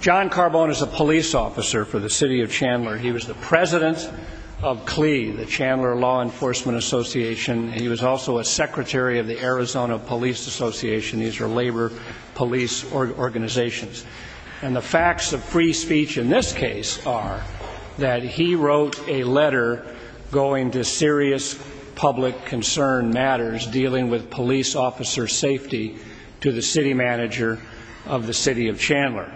John Carboun is a police officer for the City of Chandler. He was the president of CLI, the Chandler Law Enforcement Association. He was also a secretary of the Arizona Police Association. These are labor police organizations. And the facts of free speech in this case are that he wrote a letter going to serious public concern matters dealing with police officer safety to the city manager of the City of Chandler.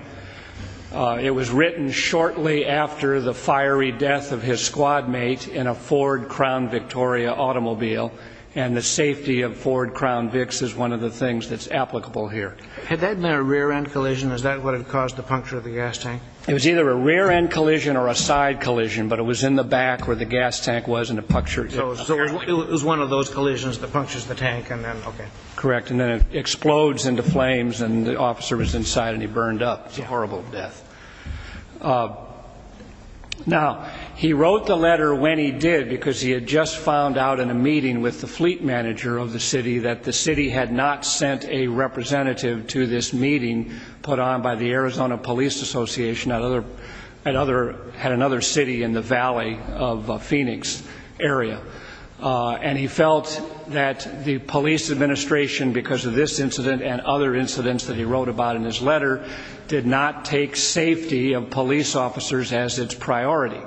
It was written shortly after the fiery death of his squad mate in a Ford Crown Victoria automobile. And the safety of Ford Crown Vicks is one of the things that's applicable here. Had that been a rear-end collision? Is that what had caused the puncture of the gas tank? It was either a rear-end collision or a side collision, but it was in the back where the gas tank was and it punctured. So it was one of those collisions that punctures the tank and then, okay. Correct. And then it explodes into flames and the officer was inside and he burned up. It's a horrible death. Now, he wrote the letter when he did because he had just found out in a meeting with the fleet manager of the city that the city had not sent a representative to this meeting put on by the Arizona Police Association. Another had another city in the Valley of Phoenix area. And he felt that the police administration, because of this incident and other incidents that he wrote about in his letter, did not take safety of police officers as its priority.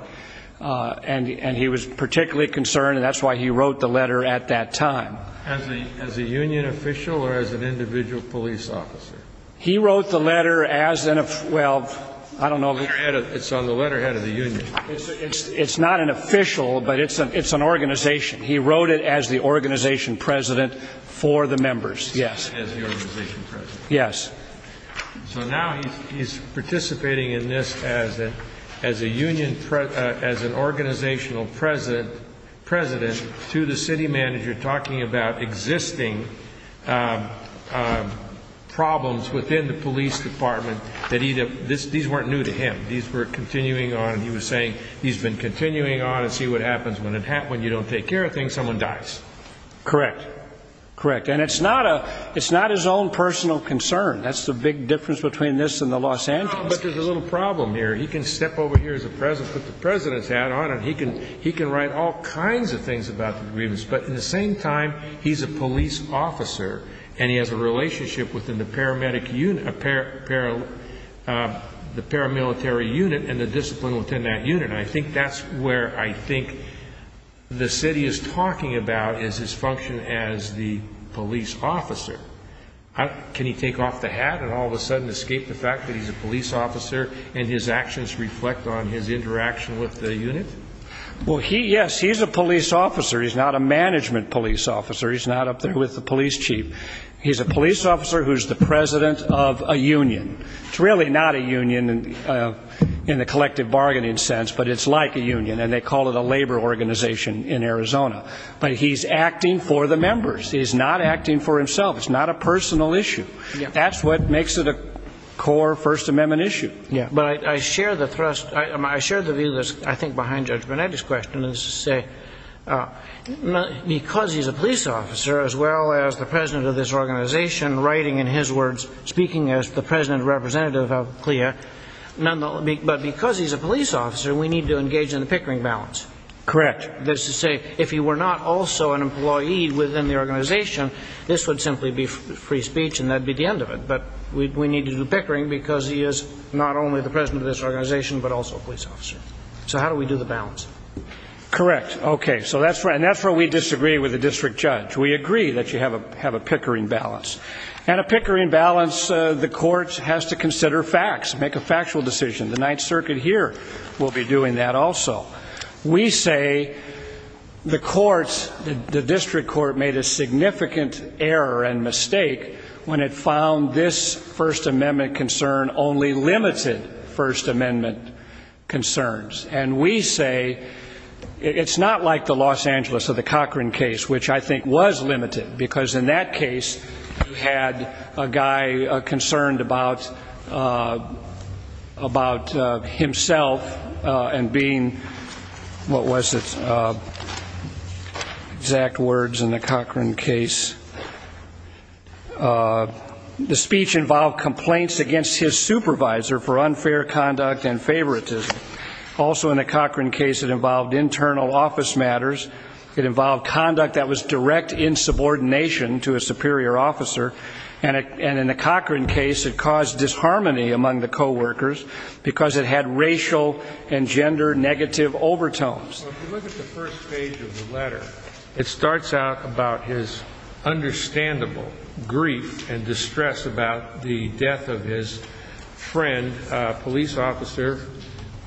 And he was particularly concerned and that's why he wrote the letter at that time. As a union official or as an individual police officer? He wrote the letter as an, well, I don't know. It's not an official, but it's an organization. He wrote it as the organization president for the members. Yes. Yes. So now he's participating in this as an organizational president to the city manager, talking about existing problems within the police department. These weren't new to him. These were continuing on. He was saying he's been continuing on to see what happens when you don't take care of things. Someone dies. Correct. Correct. And it's not a it's not his own personal concern. That's the big difference between this and the Los Angeles. But there's a little problem here. He can step over here as a president, put the president's hat on and he can he can write all kinds of things about the grievance. But in the same time, he's a police officer and he has a relationship within the paramedic unit, a pair of the paramilitary unit and the discipline within that unit. And I think that's where I think the city is talking about is his function as the police officer. Can he take off the hat and all of a sudden escape the fact that he's a police officer and his actions reflect on his interaction with the unit? Well, he yes, he's a police officer. He's not a management police officer. He's not up there with the police chief. He's a police officer who's the president of a union. It's really not a union in the collective bargaining sense, but it's like a union and they call it a labor organization in Arizona. But he's acting for the members. He's not acting for himself. It's not a personal issue. That's what makes it a core First Amendment issue. But I share the thrust. I share the view that's I think behind Judge Burnett's question is to say, because he's a police officer, as well as the president of this organization writing in his words, speaking as the president representative of CLIA, but because he's a police officer, we need to engage in the pickering balance. Correct. That's to say, if he were not also an employee within the organization, this would simply be free speech and that'd be the end of it. But we need to do the pickering because he is not only the president of this organization, but also a police officer. So how do we do the balance? Correct. OK, so that's right. And that's where we disagree with the district judge. We agree that you have a have a pickering balance and a pickering balance. The court has to consider facts, make a factual decision. The Ninth Circuit here will be doing that also. We say the courts, the district court made a significant error and mistake when it found this First Amendment concern only limited First Amendment concerns. And we say it's not like the Los Angeles or the Cochran case, which I think was limited because in that case, you had a guy concerned about about himself and being what was it, exact words in the Cochran case. The speech involved complaints against his supervisor for unfair conduct and favoritism. Also in the Cochran case, it involved internal office matters. It involved conduct that was direct in subordination to a superior officer. And in the Cochran case, it caused disharmony among the co-workers because it had racial and gender negative overtones. If you look at the first page of the letter, it starts out about his understandable grief and distress about the death of his friend, a police officer,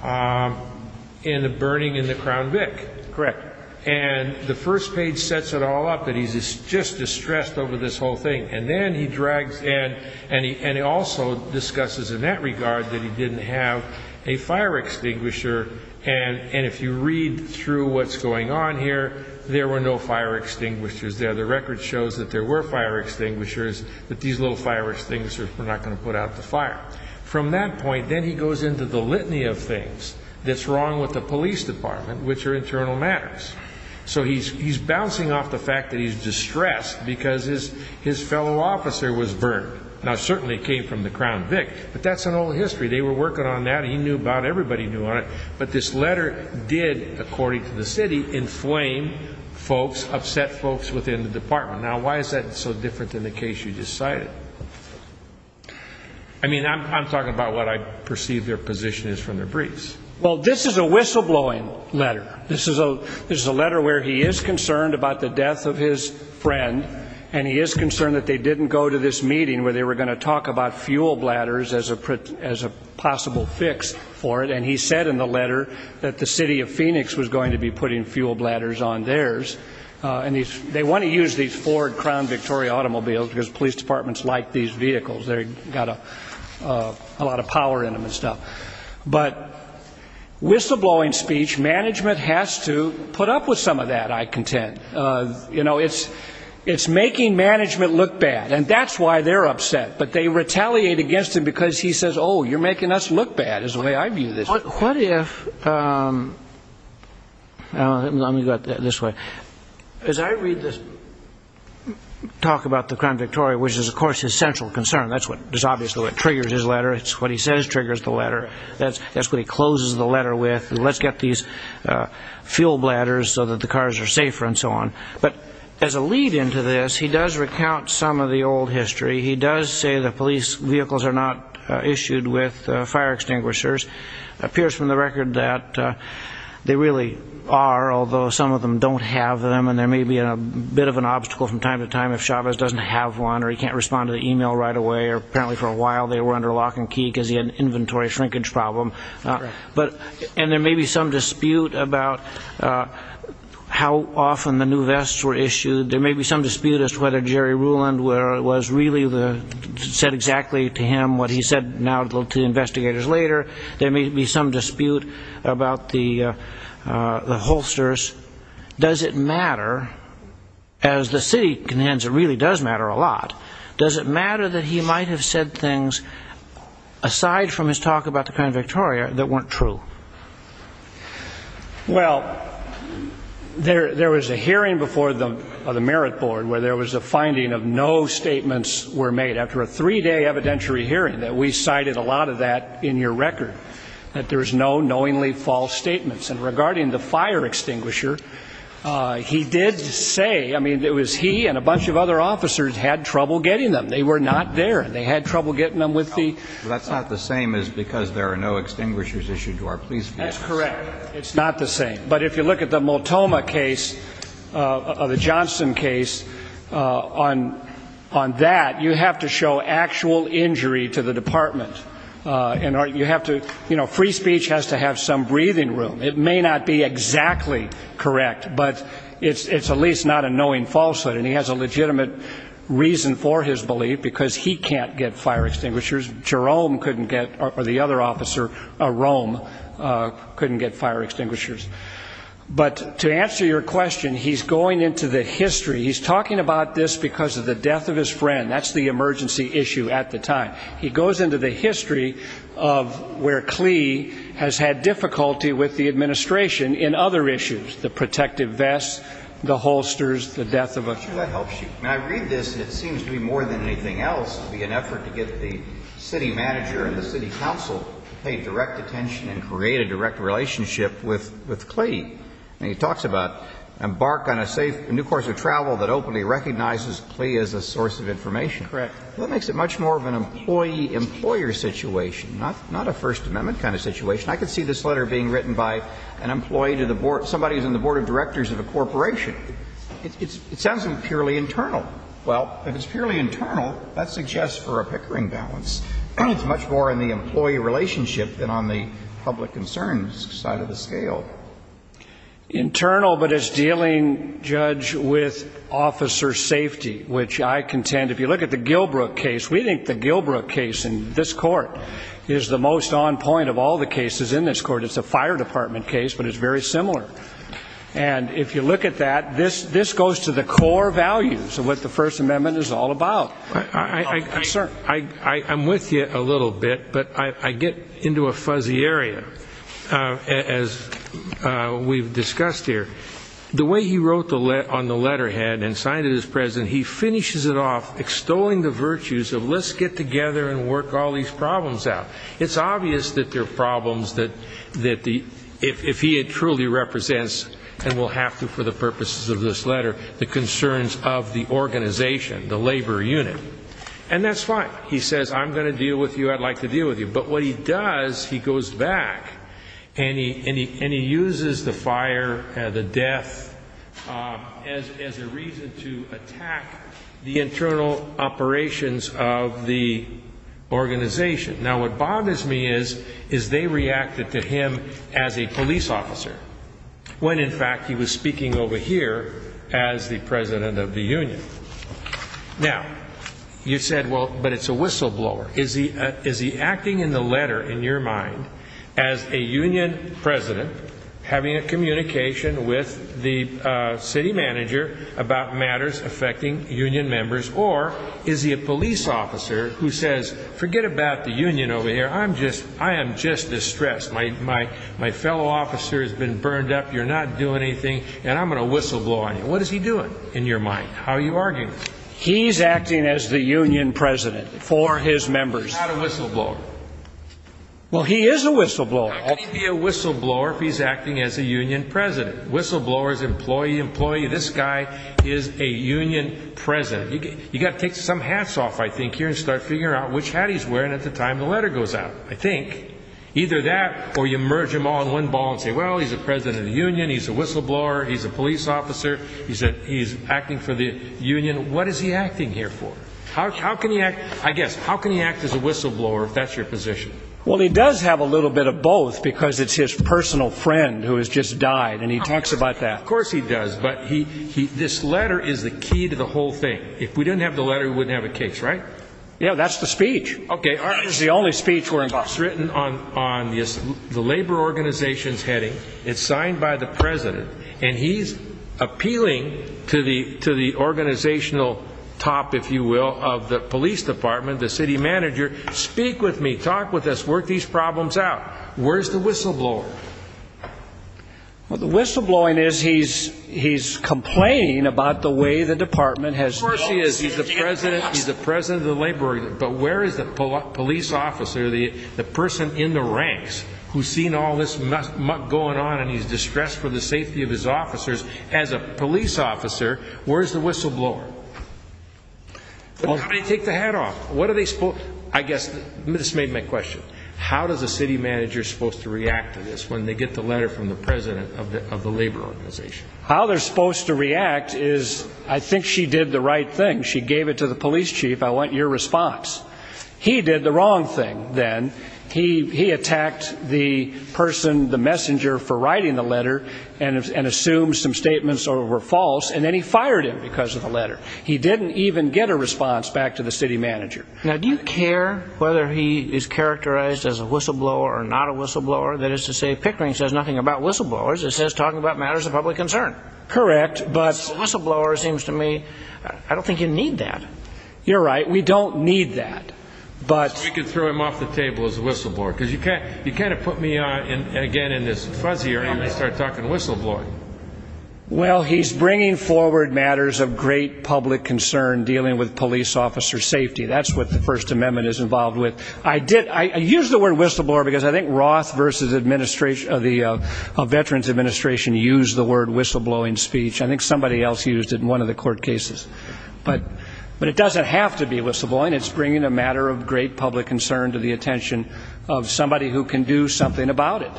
in a burning in the Crown Vic. Correct. And the first page sets it all up that he's just distressed over this whole thing. And then he drags, and he also discusses in that regard that he didn't have a fire extinguisher. And if you read through what's going on here, there were no fire extinguishers there. The record shows that there were fire extinguishers, but these little fire extinguishers were not going to put out the fire. From that point, then he goes into the litany of things that's wrong with the police department, which are internal matters. So he's bouncing off the fact that he's distressed because his fellow officer was burned. Now, certainly it came from the Crown Vic, but that's an old history. They were working on that, and he knew about it, everybody knew about it. But this letter did, according to the city, inflame folks, upset folks within the department. Now, why is that so different than the case you just cited? I mean, I'm talking about what I perceive their position is from their briefs. Well, this is a whistleblowing letter. This is a letter where he is concerned about the death of his friend, and he is concerned that they didn't go to this meeting where they were going to talk about fuel bladders as a possible fix for it. And he said in the letter that the city of Phoenix was going to be putting fuel bladders on theirs. And they want to use these Ford Crown Victoria automobiles because police departments like these vehicles. They've got a lot of power in them and stuff. But whistleblowing speech, management has to put up with some of that, I contend. You know, it's making management look bad, and that's why they're upset. But they retaliate against him because he says, oh, you're making us look bad, is the way I view this. What if, let me go this way, as I read this talk about the Crown Victoria, which is, of course, his central concern. That's what is obviously what triggers his letter. It's what he says triggers the letter. That's what he closes the letter with. Let's get these fuel bladders so that the cars are safer and so on. But as a lead into this, he does recount some of the old history. He does say that police vehicles are not issued with fire extinguishers. Appears from the record that they really are, although some of them don't have them. And there may be a bit of an obstacle from time to time if Chavez doesn't have one or he can't respond to the email right away. Or apparently for a while they were under lock and key because he had an inventory shrinkage problem. But, and there may be some dispute about how often the new vests were issued. There may be some dispute as to whether Jerry Ruland was really the, said exactly to him what he said now to investigators later. There may be some dispute about the holsters. Does it matter, as the city, it really does matter a lot. Does it matter that he might have said things, aside from his talk about the Crown Victoria, that weren't true? Well, there was a hearing before the Merit Board where there was a finding of no statements were made. After a three-day evidentiary hearing that we cited a lot of that in your record, that there's no knowingly false statements. And regarding the fire extinguisher, he did say, I mean, it was he and a bunch of other officers had trouble getting them. They were not there. They had trouble getting them with the- Well, that's not the same as because there are no extinguishers issued to our police vehicles. That's correct. It's not the same. But if you look at the Multoma case, the Johnson case, on that, you have to show actual injury to the department. And you have to, you know, free speech has to have some breathing room. It may not be exactly correct, but it's at least not a knowing falsehood. And he has a legitimate reason for his belief, because he can't get fire extinguishers. Jerome couldn't get, or the other officer, Rome, couldn't get fire extinguishers. But to answer your question, he's going into the history. He's talking about this because of the death of his friend. That's the emergency issue at the time. He goes into the history of where Clee has had difficulty with the administration in other issues, the protective vests, the holsters, the death of a- I'm sure that helps you. I mean, I read this, and it seems to me more than anything else to be an effort to get the city manager and the city council to pay direct attention and create a direct relationship with Clee. I mean, he talks about embark on a safe new course of travel that openly recognizes Clee as a source of information. That makes it much more of an employee-employer situation, not a First Amendment kind of situation. I can see this letter being written by an employee to the board, somebody who's on the board of directors of a corporation. It sounds purely internal. Well, if it's purely internal, that suggests for a pickering balance. It's much more in the employee relationship than on the public concerns side of the scale. Internal, but it's dealing, Judge, with officer safety, which I contend, if you look at the Gilbrook case, we think the Gilbrook case in this court is the most on point of all the cases in this court. It's a fire department case, but it's very similar. And if you look at that, this goes to the core values of what the First Amendment is all about. Sir, I'm with you a little bit, but I get into a fuzzy area. As we've discussed here, the way he wrote on the letterhead and signed it as president, he finishes it off extolling the virtues of let's get together and work all these problems out. It's obvious that there are problems that if he truly represents, and will have to for the purposes of this letter, the concerns of the organization, the labor unit. And that's fine. He says, I'm going to deal with you, I'd like to deal with you. But what he does, he goes back and he uses the fire, the death, as a reason to attack the internal operations of the organization. Now, what bothers me is, is they reacted to him as a police officer when, in fact, he was speaking over here as the president of the union. Now, you said, well, but it's a whistleblower. Is he is he acting in the letter, in your mind, as a union president having a communication with the city manager about matters affecting union members? Or is he a police officer who says, forget about the union over here? I'm just I am just distressed. My my my fellow officer has been burned up. You're not doing anything. And I'm going to whistleblow on you. What is he doing in your mind? How are you arguing? He's acting as the union president for his members. Not a whistleblower. Well, he is a whistleblower. I'll be a whistleblower if he's acting as a union president. Whistleblowers, employee, employee. This guy is a union president. You got to take some hats off, I think, here and start figuring out which hat he's wearing at the time the letter goes out. I think either that or you merge them all in one ball and say, well, he's a president of the union. He's a whistleblower. He's a police officer. He said he's acting for the union. What is he acting here for? How can he act? I guess. How can he act as a whistleblower if that's your position? Well, he does have a little bit of both because it's his personal friend who has just died. And he talks about that. Of course he does. But he he this letter is the key to the whole thing. If we didn't have the letter, we wouldn't have a case. Right. Yeah, that's the speech. OK. It's the only speech where it's written on on the labor organization's heading. It's signed by the president and he's appealing to the to the organizational top, if you will, of the police department. The city manager. Speak with me. Talk with us. Work these problems out. Where's the whistleblower? Well, the whistleblowing is he's he's complaining about the way the department has. Of course he is. He's the president. He's the president of the labor. But where is the police officer, the the person in the ranks who's seen all this going on and he's distressed for the safety of his officers as a police officer? Where's the whistleblower? Take the hat off. What are they? I guess this made my question. How does a city manager supposed to react to this when they get the letter from the president of the labor organization? How they're supposed to react is I think she did the right thing. She gave it to the police chief. I want your response. He did the wrong thing. Then he he attacked the person, the messenger for writing the letter and assumed some statements over false. And then he fired him because of the letter. He didn't even get a response back to the city manager. Now, do you care whether he is characterized as a whistleblower or not a whistleblower? That is to say, Pickering says nothing about whistleblowers. It says talking about matters of public concern. Correct. But whistleblowers seems to me I don't think you need that. You're right. We don't need that. But we can throw him off the table as a whistleblower because you can't you can't put me on again in this fuzzy or I'm going to start talking whistleblowing. Well, he's bringing forward matters of great public concern dealing with police officer safety. That's what the First Amendment is involved with. I did I use the word whistleblower because I think Roth versus administration of the Veterans Administration used the word whistleblowing speech. I think somebody else used it in one of the court cases. But but it doesn't have to be whistleblowing. It's bringing a matter of great public concern to the attention of somebody who can do something about it.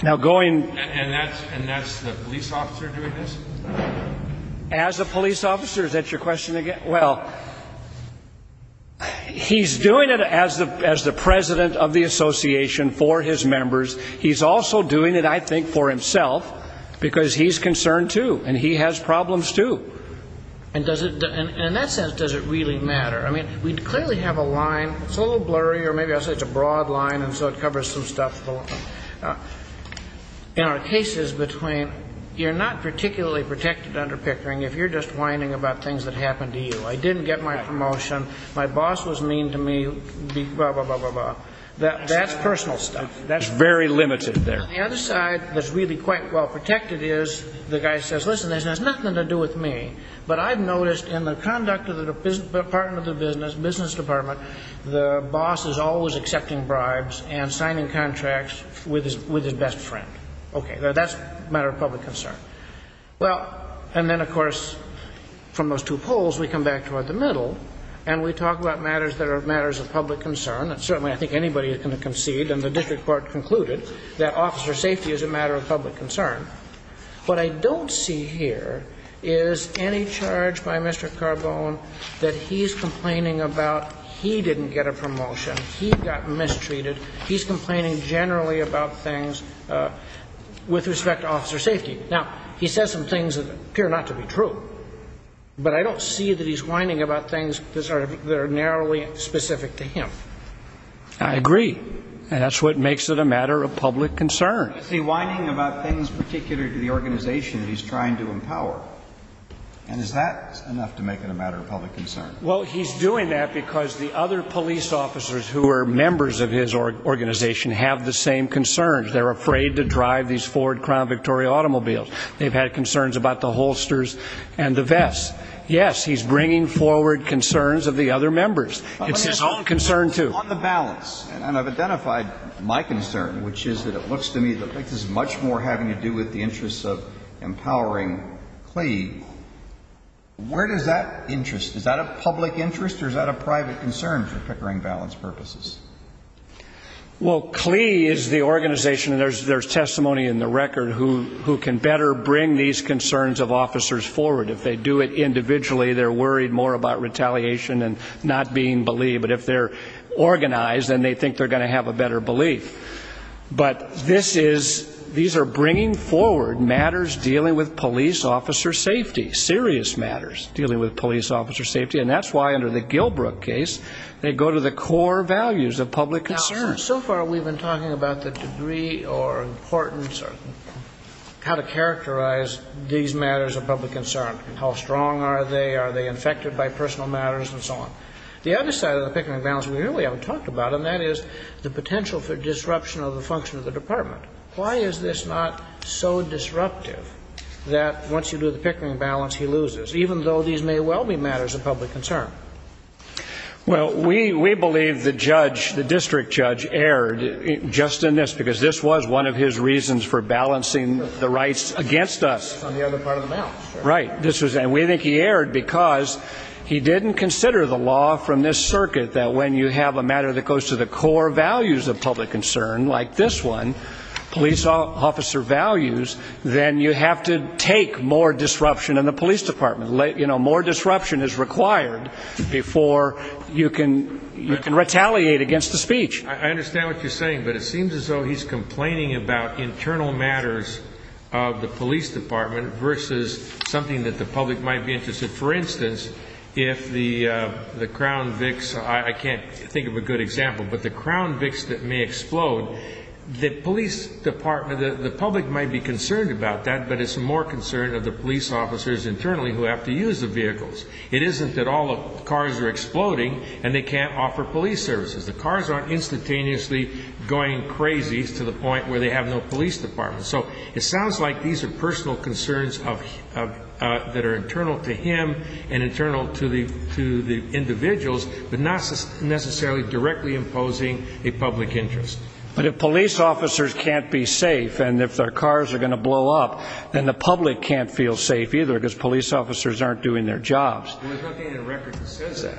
Now, going and that's and that's the police officer doing this as a police officer. Is that your question again? Well, he's doing it as the as the president of the association for his members. He's also doing it, I think, for himself because he's concerned, too, and he has problems, too. And does it in that sense, does it really matter? I mean, we clearly have a line. So blurry or maybe I'll say it's a broad line. And so it covers some stuff. In our cases between you're not particularly protected under Pickering, if you're just whining about things that happened to you, I didn't get my promotion. My boss was mean to me, blah, blah, blah, blah, blah. That's personal stuff. That's very limited there. The other side that's really quite well protected is the guy says, listen, this has nothing to do with me. But I've noticed in the conduct of the partner of the business business department, the boss is always accepting bribes and signing contracts with his with his best friend. OK, that's a matter of public concern. Well, and then, of course, from those two polls, we come back toward the middle and we talk about matters that are matters of public concern. And certainly I think anybody can concede. And the district court concluded that officer safety is a matter of public concern. What I don't see here is any charge by Mr. Carbone that he's complaining about. He didn't get a promotion. He got mistreated. He's complaining generally about things with respect to officer safety. Now, he says some things that appear not to be true, but I don't see that he's whining about things that are narrowly specific to him. I agree. And that's what makes it a matter of public concern. He's whining about things particular to the organization he's trying to empower. And is that enough to make it a matter of public concern? Well, he's doing that because the other police officers who are members of his organization have the same concerns. They're afraid to drive these Ford Crown Victoria automobiles. They've had concerns about the holsters and the vests. Yes, he's bringing forward concerns of the other members. It's his own concern, too. On the balance, and I've identified my concern, which is that it looks to me that this is much more having to do with the interests of empowering CLEA. Where does that interest, is that a public interest or is that a private concern for Pickering Balance purposes? Well, CLEA is the organization, and there's testimony in the record, who can better bring these concerns of officers forward. If they do it individually, they're worried more about retaliation and not being believed. But if they're organized, then they think they're going to have a better belief. But this is, these are bringing forward matters dealing with police officer safety, serious matters dealing with police officer safety. And that's why under the Gilbrook case, they go to the core values of public concern. So far, we've been talking about the degree or importance or how to characterize these matters of public concern. How strong are they? Are they infected by personal matters and so on? The other side of the Pickering Balance we really haven't talked about, and that is the potential for disruption of the function of the department. Why is this not so disruptive that once you do the Pickering Balance, he loses, even though these may well be matters of public concern? Well, we believe the judge, the district judge, erred just in this because this was one of his reasons for balancing the rights against us. On the other part of the balance. Right. This was, and we think he erred because he didn't consider the law from this circuit that when you have a matter that goes to the core values of public concern, like this one, police officer values, then you have to take more disruption in the police department. You know, more disruption is required before you can you can retaliate against the speech. I understand what you're saying, but it seems as though he's complaining about internal matters of the police department versus something that the public might be interested. For instance, if the crown vix, I can't think of a good example, but the crown vix that may explode, the police department, the public might be concerned about that, but it's more concerned of the police officers internally who have to use the vehicles. It isn't that all the cars are exploding and they can't offer police services. The cars aren't instantaneously going crazy to the point where they have no police department. So it sounds like these are personal concerns of that are internal to him and internal to the to the individuals, but not necessarily directly imposing a public interest. But if police officers can't be safe and if their cars are going to blow up, then the public can't feel safe either because police officers aren't doing their jobs. We're looking at a record that says that,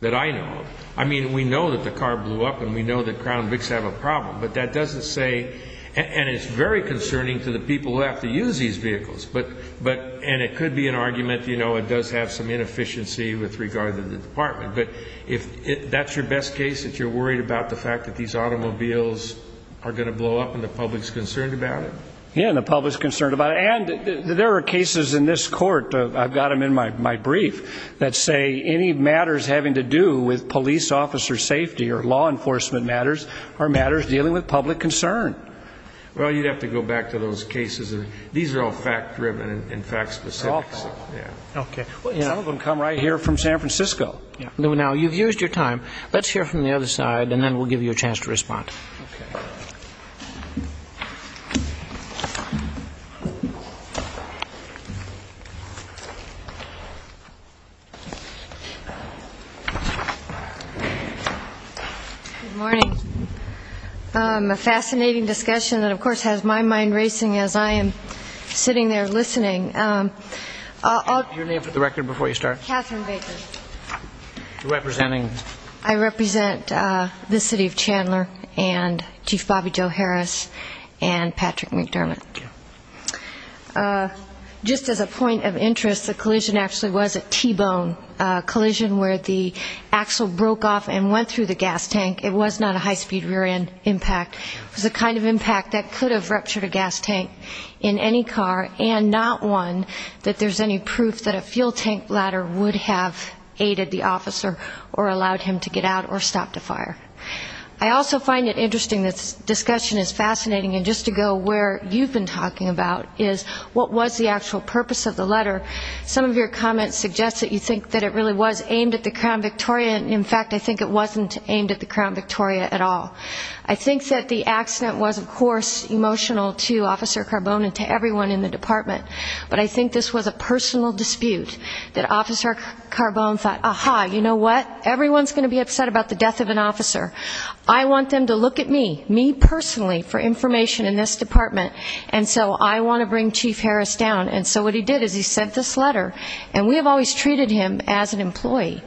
that I know. I mean, we know that the car blew up and we know that crown vix have a problem, but that doesn't say and it's very concerning to the people who have to use these vehicles. But but and it could be an argument, you know, it does have some inefficiency with regard to the department. But if that's your best case, that you're worried about the fact that these automobiles are going to blow up and the public's concerned about it. Yeah. And the public's concerned about it. And there are cases in this court. I've got them in my my brief that say any matters having to do with police officer safety or law enforcement matters are matters dealing with public concern. Well, you'd have to go back to those cases. These are all fact driven and fact specific. Yeah. OK. Some of them come right here from San Francisco. Now, you've used your time. Let's hear from the other side and then we'll give you a chance to respond. Morning. A fascinating discussion that, of course, has my mind racing as I am sitting there listening. Your name for the record before you start. Representing I represent the city of Chandler and Chief Bobby Joe Harris and Patrick McDermott. Just as a point of interest, the collision actually was a T-bone collision where the axle broke off and went through the gas tank. It was not a high speed rear end impact. It was a kind of impact that could have ruptured a gas tank in any car and not one that there's any proof that a fuel tank ladder would have aided the officer or allowed him to get out or stop the fire. I also find it interesting. This discussion is fascinating. And just to go where you've been talking about is what was the actual purpose of the letter? Some of your comments suggest that you think that it really was aimed at the Crown Victoria. In fact, I think it wasn't aimed at the Crown Victoria at all. I think that the accident was, of course, emotional to Officer Carbone and to everyone in the department. But I think this was a personal dispute that Officer Carbone thought, aha, you know what, everyone's going to be upset about the death of an officer. I want them to look at me, me personally, for information in this department. And so I want to bring Chief Harris down. And so what he did is he sent this letter. And we have always treated him as an employee,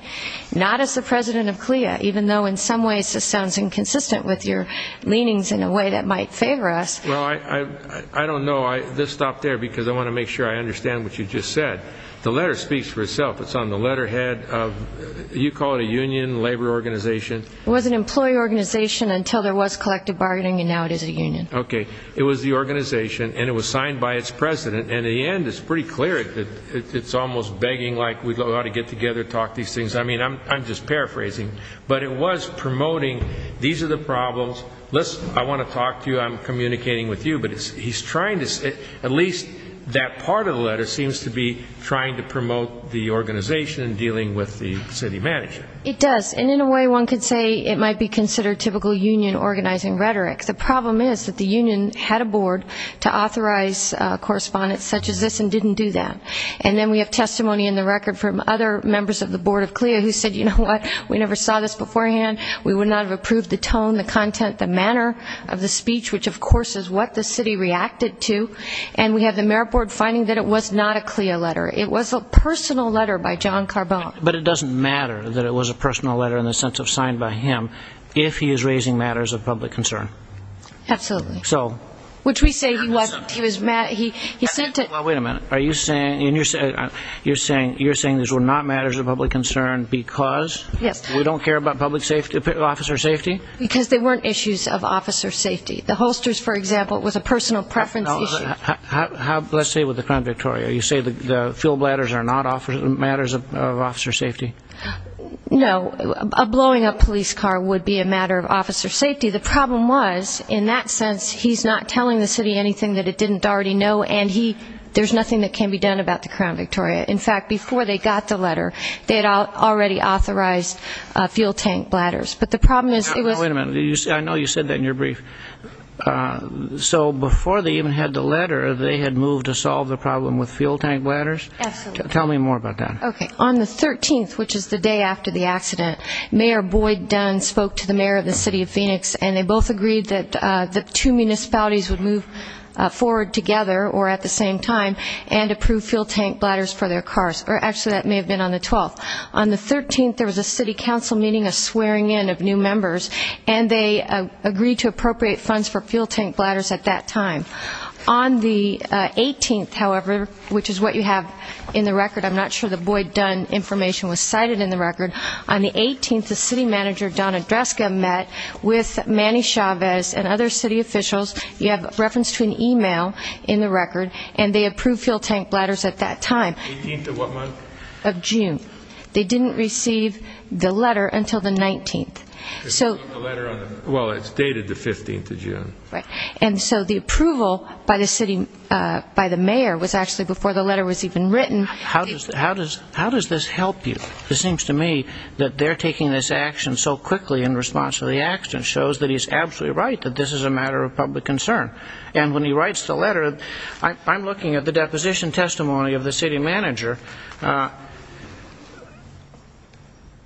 not as the president of CLIA, even though in some ways this sounds inconsistent with your leanings in a way that might favor us. Well, I don't know. Let's stop there, because I want to make sure I understand what you just said. The letter speaks for itself. It's on the letterhead of, you call it a union, labor organization? It was an employee organization until there was collective bargaining, and now it is a union. Okay. It was the organization, and it was signed by its president. And in the end, it's pretty clear that it's almost begging like we ought to get together and talk these things. I mean, I'm just paraphrasing. But it was promoting these are the problems. Listen, I want to talk to you. I'm communicating with you. But he's trying to at least that part of the letter seems to be trying to promote the organization and dealing with the city manager. It does. And in a way, one could say it might be considered typical union organizing rhetoric. The problem is that the union had a board to authorize correspondence such as this and didn't do that. And then we have testimony in the record from other members of the board of CLIA who said, you know what, we never saw this beforehand. We would not have approved the tone, the content, the manner of the speech, which, of course, is what the city reacted to. And we have the merit board finding that it was not a CLIA letter. It was a personal letter by John Carbone. But it doesn't matter that it was a personal letter in the sense of signed by him if he is raising matters of public concern. Absolutely. So. Which we say he wasn't. He was mad. He sent it. Well, wait a minute. You're saying these were not matters of public concern because we don't care about public safety, officer safety? Because they weren't issues of officer safety. The holsters, for example, was a personal preference issue. Let's say with the Crown Victoria, you say the fuel bladders are not matters of officer safety? No. A blowing up police car would be a matter of officer safety. The problem was, in that sense, he's not telling the city anything that it didn't already know, and there's nothing that can be done about the Crown Victoria. In fact, before they got the letter, they had already authorized fuel tank bladders. But the problem is it was. Wait a minute. I know you said that in your brief. So before they even had the letter, they had moved to solve the problem with fuel tank bladders? Absolutely. Tell me more about that. Okay. On the 13th, which is the day after the accident, Mayor Boyd Dunn spoke to the mayor of the city of Phoenix, and they both agreed that the two municipalities would move forward together or at the same time and approve fuel tank bladders for their cars. Actually, that may have been on the 12th. On the 13th, there was a city council meeting, a swearing in of new members, and they agreed to appropriate funds for fuel tank bladders at that time. On the 18th, however, which is what you have in the record. I'm not sure the Boyd Dunn information was cited in the record. On the 18th, the city manager, Donna Dreska, met with Manny Chavez and other city officials. You have reference to an e-mail in the record, and they approved fuel tank bladders at that time. 18th of what month? Of June. They didn't receive the letter until the 19th. Well, it's dated the 15th of June. And so the approval by the mayor was actually before the letter was even written. How does this help you? It seems to me that they're taking this action so quickly in response to the accident shows that he's absolutely right, that this is a matter of public concern. And when he writes the letter, I'm looking at the deposition testimony of the city manager.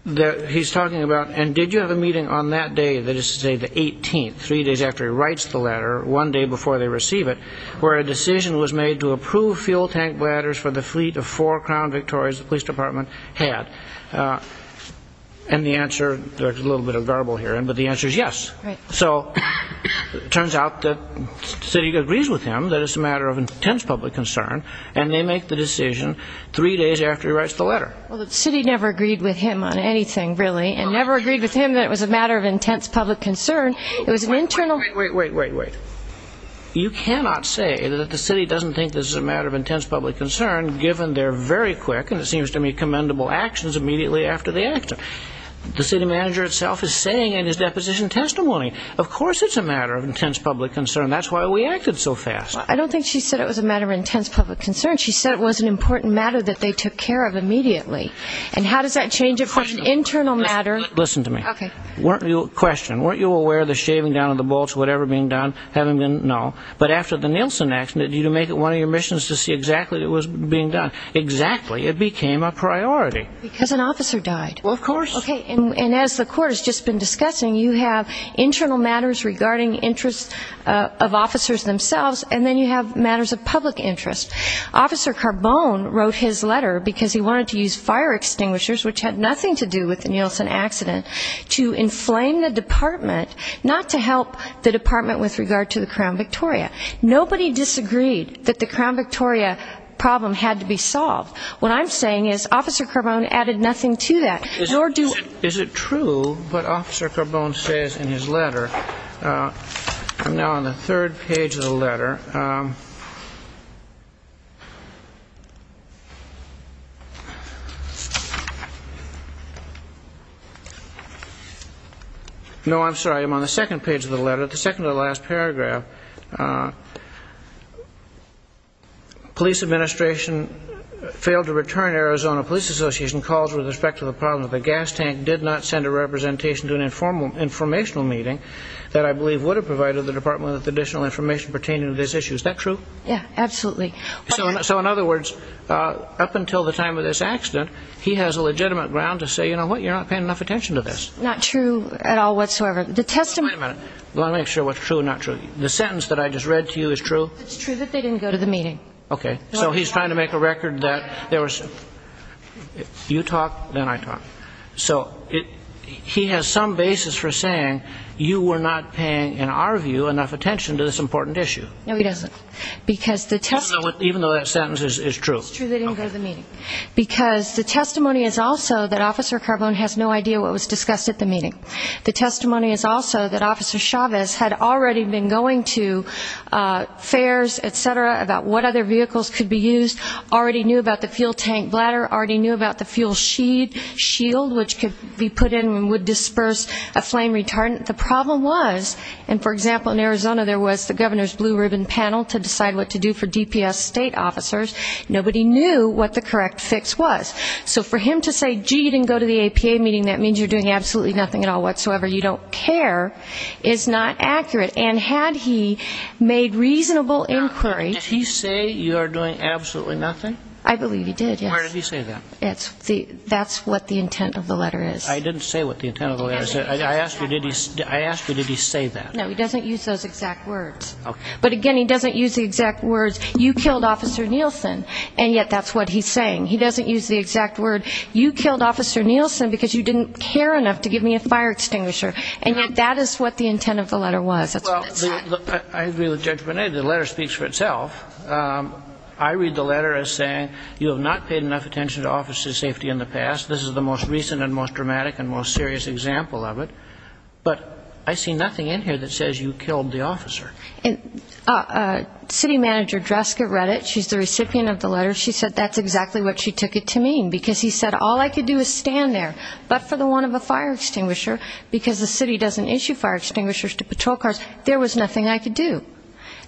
He's talking about, and did you have a meeting on that day, that is to say the 18th, three days after he writes the letter, one day before they receive it, where a decision was made to approve fuel tank bladders for the fleet of four Crown Victorias the police department had. And the answer, there's a little bit of garble here, but the answer is yes. So it turns out that the city agrees with him that it's a matter of intense public concern, and they make the decision three days after he writes the letter. Well, the city never agreed with him on anything, really, and never agreed with him that it was a matter of intense public concern. It was an internal... Wait, wait, wait, wait, wait. You cannot say that the city doesn't think this is a matter of intense public concern given they're very quick and it seems to me commendable actions immediately after the accident. The city manager itself is saying in his deposition testimony, of course it's a matter of intense public concern. That's why we acted so fast. I don't think she said it was a matter of intense public concern. She said it was an important matter that they took care of immediately. And how does that change it from an internal matter... Listen to me. Okay. Question. Weren't you aware of the shaving down of the bolts, whatever being done, having been... No. But after the Nielsen accident, did you make it one of your missions to see exactly what was being done? Exactly. It became a priority. Because an officer died. Well, of course. Okay. And as the court has just been discussing, you have internal matters regarding interests of officers themselves, and then you have matters of public interest. Officer Carbone wrote his letter because he wanted to use fire extinguishers, which had nothing to do with the Nielsen accident, to inflame the department, not to help the department with regard to the Crown Victoria. Nobody disagreed that the Crown Victoria problem had to be solved. What I'm saying is Officer Carbone added nothing to that, nor do... Is it true what Officer Carbone says in his letter? I'm now on the third page of the letter. No, I'm sorry. I'm on the second page of the letter, the second to the last paragraph. Police administration failed to return Arizona Police Association calls with respect to the problem that the gas tank did not send a representation to an informational meeting that I believe would have provided the department with additional information pertaining to this issue. Is that true? Yeah, absolutely. So in other words, up until the time of this accident, he has a legitimate ground to say, you know what, you're not paying enough attention to this. Not true at all whatsoever. The testimony... Wait a minute. Let me make sure what's true and not true. The sentence that I just read to you is true? It's true that they didn't go to the meeting. Okay. So he's trying to make a record that there was... You talk, then I talk. So he has some basis for saying you were not paying, in our view, enough attention to this important issue. No, he doesn't. Because the testimony... Even though that sentence is true. It's true they didn't go to the meeting. Because the testimony is also that Officer Carbone has no idea what was discussed at the meeting. The testimony is also that Officer Chavez had already been going to fairs, et cetera, about what other vehicles could be used, already knew about the fuel tank bladder, already knew about the fuel shield, which could be put in and would disperse a flame retardant. The problem was, and for example, in Arizona there was the governor's blue ribbon panel to decide what to do for DPS state officers. Nobody knew what the correct fix was. So for him to say, gee, you didn't go to the APA meeting, that means you're doing absolutely nothing at all whatsoever, you don't care, is not accurate. And had he made reasonable inquiry... I believe he did, yes. Why did he say that? That's what the intent of the letter is. I didn't say what the intent of the letter is. I asked you, did he say that? No, he doesn't use those exact words. Okay. But again, he doesn't use the exact words, you killed Officer Nielsen, and yet that's what he's saying. He doesn't use the exact word, you killed Officer Nielsen because you didn't care enough to give me a fire extinguisher. And yet that is what the intent of the letter was. That's what it said. Well, I agree with Judge Bonet. The letter speaks for itself. I read the letter as saying, you have not paid enough attention to officer's safety in the past. This is the most recent and most dramatic and most serious example of it. But I see nothing in here that says you killed the officer. And city manager Dreska read it. She's the recipient of the letter. She said that's exactly what she took it to mean, because he said all I could do is stand there. But for the want of a fire extinguisher, because the city doesn't issue fire extinguishers to patrol cars, there was nothing I could do.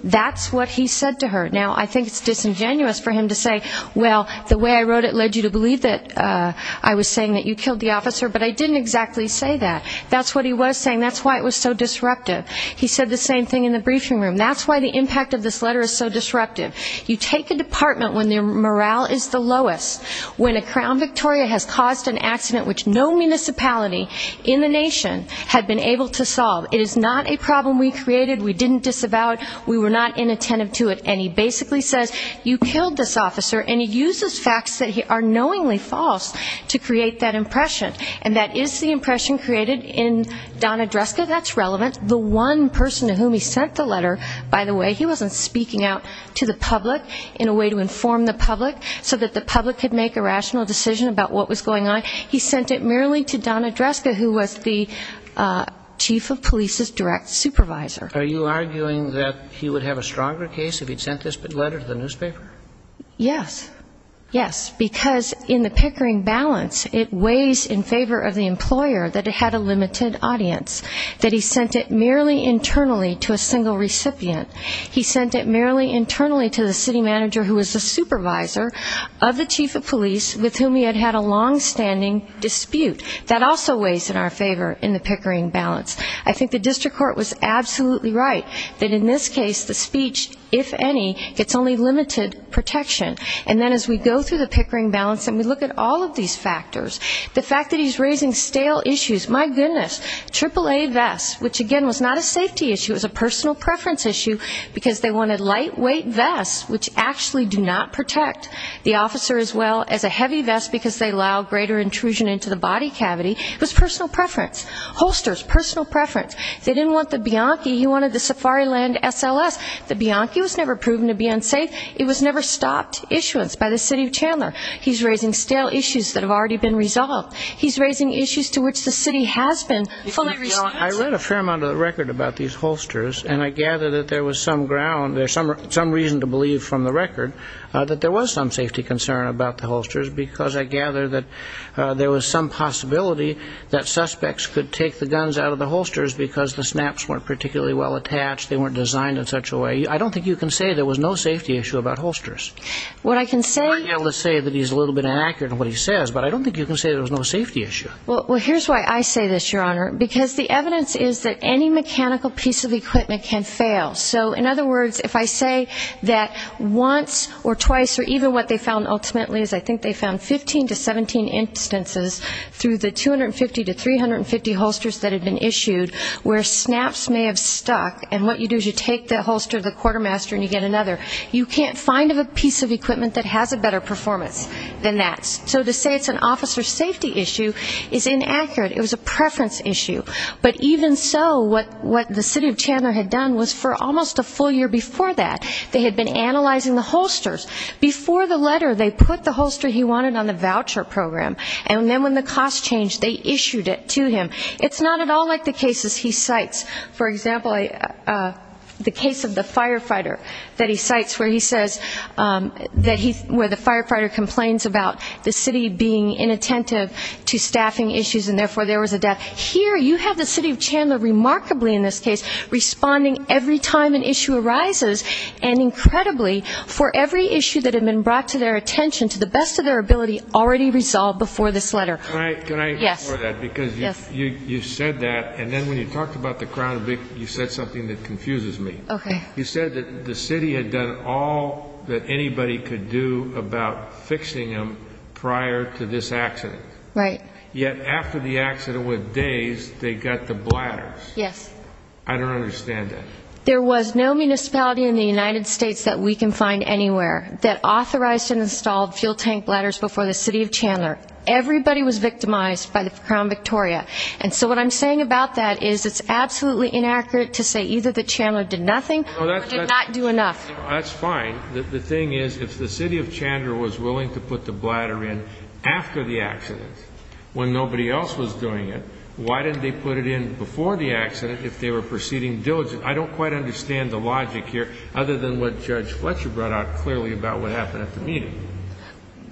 That's what he said to her. Now, I think it's disingenuous for him to say, well, the way I wrote it led you to believe that I was saying that you killed the officer. But I didn't exactly say that. That's what he was saying. That's why it was so disruptive. He said the same thing in the briefing room. That's why the impact of this letter is so disruptive. You take a department when their morale is the lowest, when a Crown Victoria has caused an accident which no municipality in the nation had been able to solve. It is not a problem we created. We didn't disavow it. We were not inattentive to it. And he basically says, you killed this officer. And he uses facts that are knowingly false to create that impression. And that is the impression created in Donna Dreska. That's relevant. The one person to whom he sent the letter, by the way, he wasn't speaking out to the public in a way to inform the public so that the public could make a rational decision about what was going on. He sent it merely to Donna Dreska, who was the chief of police's direct supervisor. Are you arguing that he would have a stronger case if he'd sent this letter to the newspaper? Yes. Yes. Because in the Pickering balance, it weighs in favor of the employer that it had a limited audience, that he sent it merely internally to a single recipient. He sent it merely internally to the city manager who was the supervisor of the chief of police with whom he had had a longstanding dispute. That also weighs in our favor in the Pickering balance. I think the district court was absolutely right that in this case the speech, if any, gets only limited protection. And then as we go through the Pickering balance and we look at all of these factors, the fact that he's raising stale issues, my goodness, triple A vests, which again was not a safety issue, it was a personal preference issue, because they wanted lightweight vests, which actually do not protect the officer as well as a heavy vest because they allow greater intrusion into the body cavity. It was personal preference. Holsters, personal preference. They didn't want the Bianchi. He wanted the Safariland SLS. The Bianchi was never proven to be unsafe. It was never stopped issuance by the city of Chandler. He's raising stale issues that have already been resolved. He's raising issues to which the city has been fully responsible. I read a fair amount of the record about these holsters, and I gather that there was some ground, there's some reason to believe from the record that there was some safety concern about the holsters because I gather that there was some possibility that suspects could take the guns out of the holsters because the snaps weren't particularly well attached, they weren't designed in such a way. I don't think you can say there was no safety issue about holsters. I'm not able to say that he's a little bit inaccurate in what he says, but I don't think you can say there was no safety issue. Well, here's why I say this, Your Honor, because the evidence is that any mechanical piece of equipment can fail. So in other words, if I say that once or twice or even what they found ultimately is, I think they found 15 to 17 instances through the 250 to 350 holsters that had been issued where snaps may have stuck, and what you do is you take the holster, the quartermaster, and you get another. You can't find a piece of equipment that has a better performance than that. So to say it's an officer safety issue is inaccurate. It was a preference issue. But even so, what the city of Chandler had done was for almost a full year before that, they had been analyzing the holsters. Before the letter, they put the holster he wanted on the voucher program, and then when the cost changed, they issued it to him. It's not at all like the cases he cites. For example, the case of the firefighter that he cites where he says that he, where the firefighter complains about the city being inattentive to staffing issues and therefore there was a death. Here you have the city of Chandler remarkably in this case responding every time an issue arises and incredibly for every issue that had been brought to their attention to the best of their ability already resolved before this letter. Can I ask for that? Yes. Because you said that, and then when you talked about the crown, you said something that confuses me. Okay. You said that the city had done all that anybody could do about fixing them prior to this accident. Right. Yet after the accident, with days, they got the bladders. Yes. I don't understand that. There was no municipality in the United States that we can find anywhere that authorized and installed fuel tank bladders before the city of Chandler. Everybody was victimized by the Crown Victoria. And so what I'm saying about that is it's absolutely inaccurate to say either the Chandler did nothing or did not do enough. That's fine. The thing is, if the city of Chandler was willing to put the bladder in after the accident when nobody else was doing it, why didn't they put it in before the accident if they were proceeding diligently? I don't quite understand the logic here other than what Judge Fletcher brought out clearly about what happened at the meeting.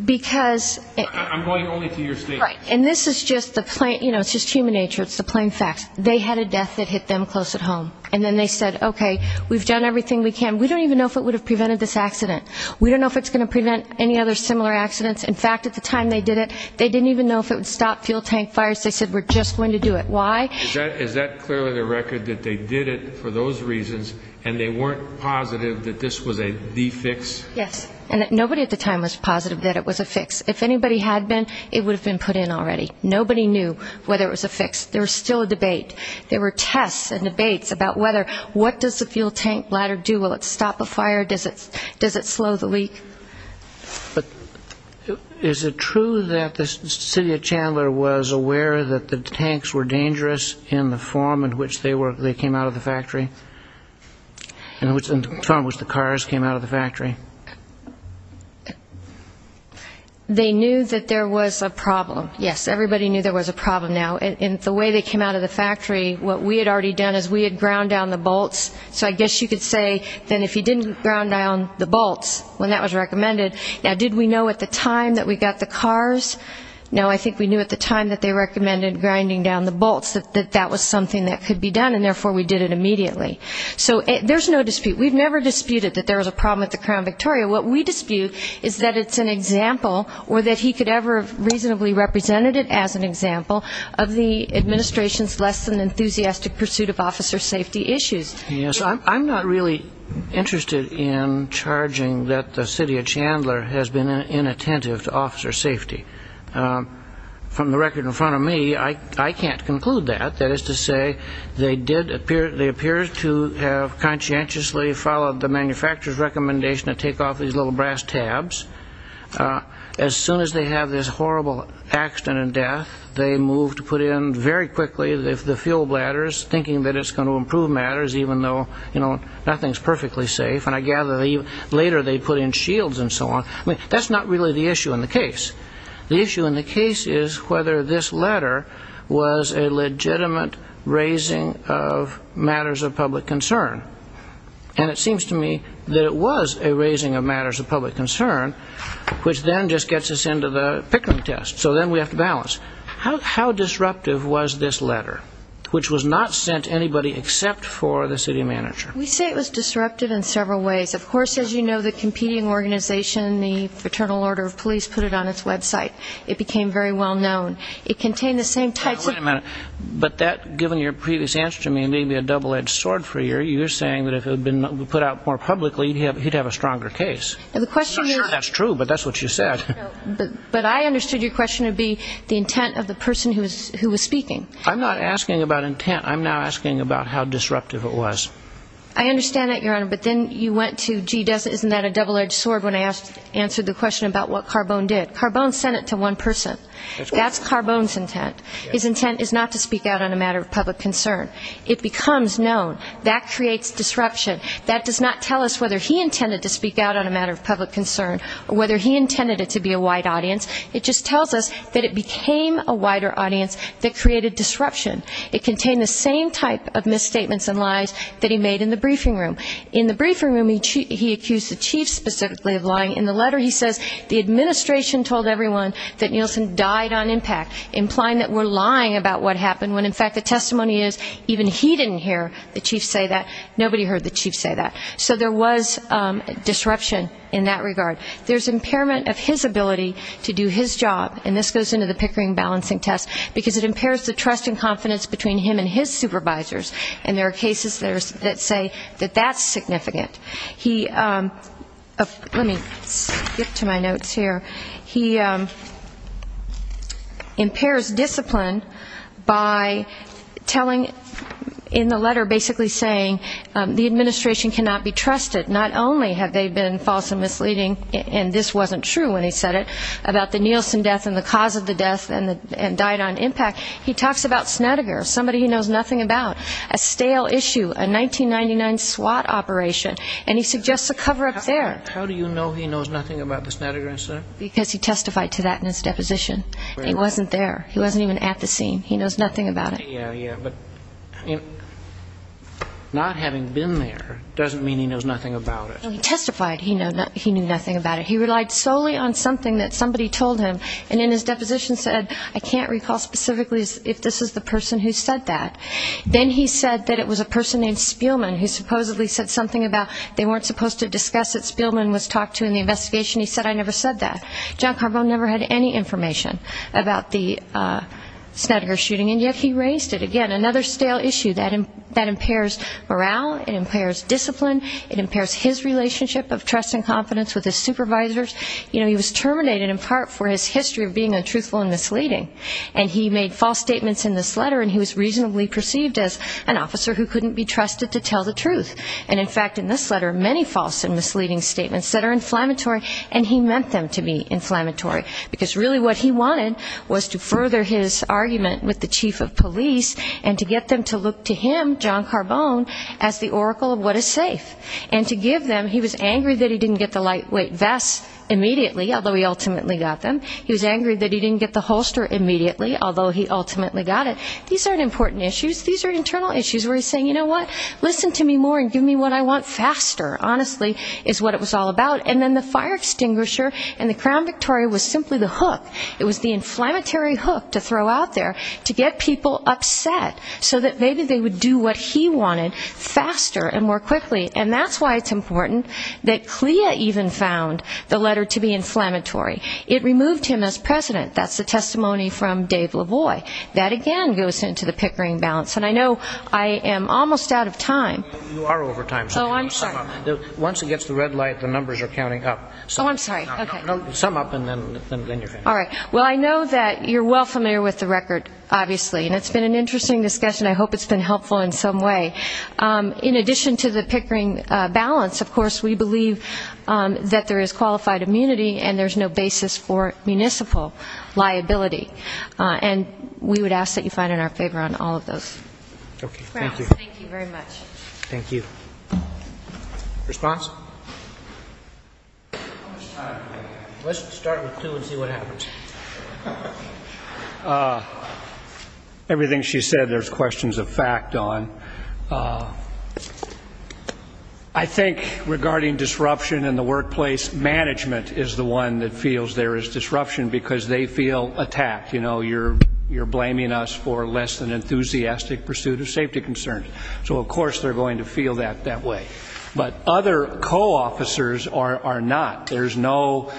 Because ‑‑ I'm going only to your statement. Right. And this is just the plain ‑‑ you know, it's just human nature. It's the plain facts. They had a death that hit them close at home. And then they said, okay, we've done everything we can. We don't even know if it would have prevented this accident. We don't know if it's going to prevent any other similar accidents. In fact, at the time they did it, they didn't even know if it would stop fuel tank fires. They said, we're just going to do it. Why? Is that clearly the record that they did it for those reasons and they weren't positive that this was a de‑fix? Yes. And nobody at the time was positive that it was a fix. If anybody had been, it would have been put in already. Nobody knew whether it was a fix. There was still a debate. There were tests and debates about what does the fuel tank ladder do? Will it stop a fire? Does it slow the leak? But is it true that the city of Chandler was aware that the tanks were dangerous in the form in which they came out of the factory, in the form in which the cars came out of the factory? They knew that there was a problem. Yes, everybody knew there was a problem now. In the way they came out of the factory, what we had already done is we had ground down the bolts. So I guess you could say that if you didn't ground down the bolts when that was recommended, now did we know at the time that we got the cars? No, I think we knew at the time that they recommended grinding down the bolts, that that was something that could be done, and therefore we did it immediately. So there's no dispute. We've never disputed that there was a problem at the Crown Victoria. What we dispute is that it's an example, or that he could ever have reasonably represented it as an example, of the administration's less than enthusiastic pursuit of officer safety issues. Yes, I'm not really interested in charging that the city of Chandler has been inattentive to officer safety. From the record in front of me, I can't conclude that. That is to say, they did appear to have conscientiously followed the manufacturer's recommendation to take off these little brass tabs. As soon as they have this horrible accident and death, they move to put in very quickly the fuel bladders, thinking that it's going to improve matters even though nothing's perfectly safe. And I gather later they put in shields and so on. That's not really the issue in the case. The issue in the case is whether this letter was a legitimate raising of matters of public concern. And it seems to me that it was a raising of matters of public concern, which then just gets us into the Pickering test. So then we have to balance. How disruptive was this letter, which was not sent to anybody except for the city manager? We say it was disruptive in several ways. Of course, as you know, the competing organization, the Fraternal Order of Police, put it on its website. It became very well known. It contained the same types of... He's saying that if it had been put out more publicly, he'd have a stronger case. I'm not sure that's true, but that's what you said. But I understood your question to be the intent of the person who was speaking. I'm not asking about intent. I'm now asking about how disruptive it was. I understand that, Your Honor, but then you went to, gee, isn't that a double-edged sword when I answered the question about what Carbone did. Carbone sent it to one person. That's Carbone's intent. His intent is not to speak out on a matter of public concern. It becomes known. That creates disruption. That does not tell us whether he intended to speak out on a matter of public concern or whether he intended it to be a wide audience. It just tells us that it became a wider audience that created disruption. It contained the same type of misstatements and lies that he made in the briefing room. In the briefing room, he accused the chief specifically of lying. In the letter, he says the administration told everyone that Nielsen died on impact, implying that we're lying about what happened, when, in fact, the testimony is even he didn't hear the chief say that. Nobody heard the chief say that. So there was disruption in that regard. There's impairment of his ability to do his job, and this goes into the Pickering balancing test, because it impairs the trust and confidence between him and his supervisors, and there are cases that say that that's significant. Let me skip to my notes here. He impairs discipline by telling, in the letter basically saying, the administration cannot be trusted. Not only have they been false and misleading, and this wasn't true when he said it, about the Nielsen death and the cause of the death and died on impact. He talks about Snedeker, somebody he knows nothing about, a stale issue, a 1999 SWAT operation, and he suggests a cover-up there. How do you know he knows nothing about the Snedeker incident? Because he testified to that in his deposition. He wasn't there. He wasn't even at the scene. He knows nothing about it. Yeah, yeah, but not having been there doesn't mean he knows nothing about it. He testified he knew nothing about it. He relied solely on something that somebody told him, and in his deposition said, I can't recall specifically if this is the person who said that. Then he said that it was a person named Spielman who supposedly said something about they weren't supposed to discuss that Spielman was talked to in the investigation. He said, I never said that. John Carbone never had any information about the Snedeker shooting, and yet he raised it. Again, another stale issue. That impairs morale. It impairs discipline. It impairs his relationship of trust and confidence with his supervisors. You know, he was terminated in part for his history of being untruthful and misleading, and he made false statements in this letter, and he was reasonably perceived as an officer who couldn't be trusted to tell the truth. And, in fact, in this letter, many false and misleading statements that are inflammatory, and he meant them to be inflammatory, because really what he wanted was to further his argument with the chief of police and to get them to look to him, John Carbone, as the oracle of what is safe. And to give them, he was angry that he didn't get the lightweight vest immediately, although he ultimately got them. He was angry that he didn't get the holster immediately, although he ultimately got it. These aren't important issues. These are internal issues where he's saying, you know what? Listen to me more and give me what I want faster, honestly, is what it was all about. And then the fire extinguisher and the Crown Victoria was simply the hook. It was the inflammatory hook to throw out there to get people upset so that maybe they would do what he wanted faster and more quickly. And that's why it's important that CLIA even found the letter to be inflammatory. It removed him as president. That's the testimony from Dave LaVoy. That, again, goes into the Pickering balance. And I know I am almost out of time. You are over time. Oh, I'm sorry. Once it gets to red light, the numbers are counting up. Oh, I'm sorry. Sum up and then you're finished. All right. Well, I know that you're well familiar with the record, obviously, and it's been an interesting discussion. I hope it's been helpful in some way. In addition to the Pickering balance, of course, we believe that there is qualified immunity and there's no basis for municipal liability. And we would ask that you find it in our favor on all of those. Okay, thank you. Thank you very much. Thank you. Response? Let's start with two and see what happens. Everything she said, there's questions of fact on. I think regarding disruption in the workplace, management is the one that feels there is disruption because they feel attacked. You know, you're blaming us for less than enthusiastic pursuit of safety concerns. So, of course, they're going to feel that that way. But other co-officers are not. There's no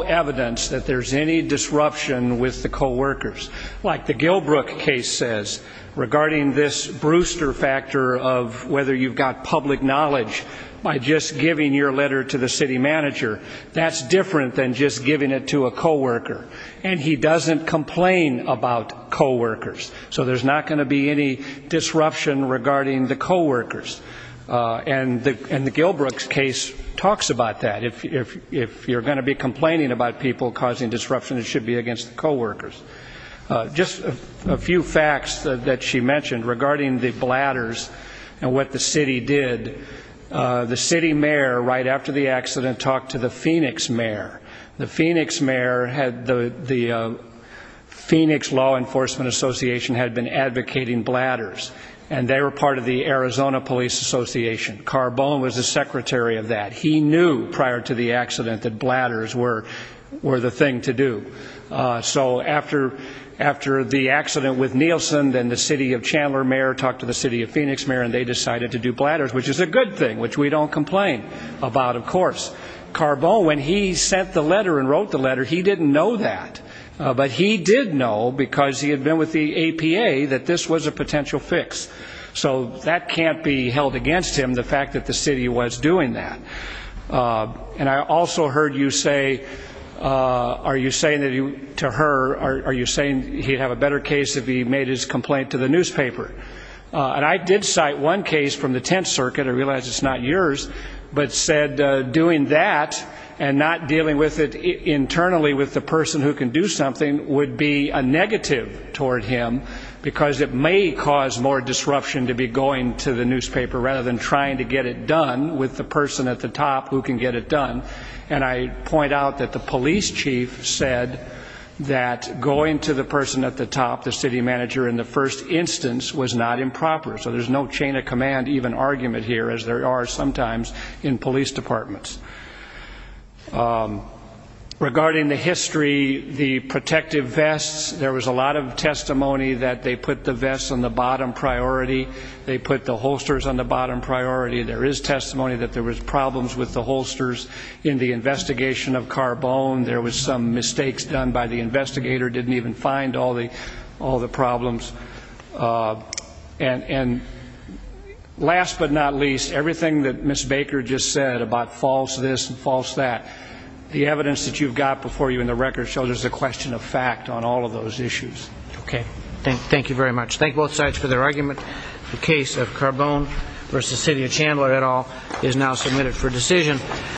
evidence that there's any disruption with the co-workers. Like the Gilbrook case says, regarding this Brewster factor of whether you've got public knowledge by just giving your letter to the city manager, that's different than just giving it to a co-worker. And he doesn't complain about co-workers. So there's not going to be any disruption regarding the co-workers. And the Gilbrook case talks about that. If you're going to be complaining about people causing disruption, it should be against the co-workers. Just a few facts that she mentioned regarding the bladders and what the city did. The city mayor, right after the accident, talked to the Phoenix mayor. The Phoenix law enforcement association had been advocating bladders, and they were part of the Arizona Police Association. Carbone was the secretary of that. He knew prior to the accident that bladders were the thing to do. So after the accident with Nielsen, then the city of Chandler mayor talked to the city of Phoenix mayor, and they decided to do bladders, which is a good thing, which we don't complain about, of course. Carbone, when he sent the letter and wrote the letter, he didn't know that. But he did know, because he had been with the APA, that this was a potential fix. So that can't be held against him, the fact that the city was doing that. And I also heard you say, are you saying to her, are you saying he'd have a better case if he made his complaint to the newspaper? And I did cite one case from the Tenth Circuit. I realize it's not yours, but said doing that and not dealing with it internally with the person who can do something would be a negative toward him, because it may cause more disruption to be going to the newspaper rather than trying to get it done with the person at the top who can get it done. And I point out that the police chief said that going to the person at the top, the city manager in the first instance, was not improper. So there's no chain of command even argument here, as there are sometimes in police departments. Regarding the history, the protective vests, there was a lot of testimony that they put the vests on the bottom priority, they put the holsters on the bottom priority. There is testimony that there was problems with the holsters in the investigation of Carbone. There was some mistakes done by the investigator, didn't even find all the problems. And last but not least, everything that Ms. Baker just said about false this and false that, the evidence that you've got before you in the record shows there's a question of fact on all of those issues. Okay. Thank you very much. Thank both sides for their argument. The case of Carbone v. City of Chandler et al. is now submitted for decision.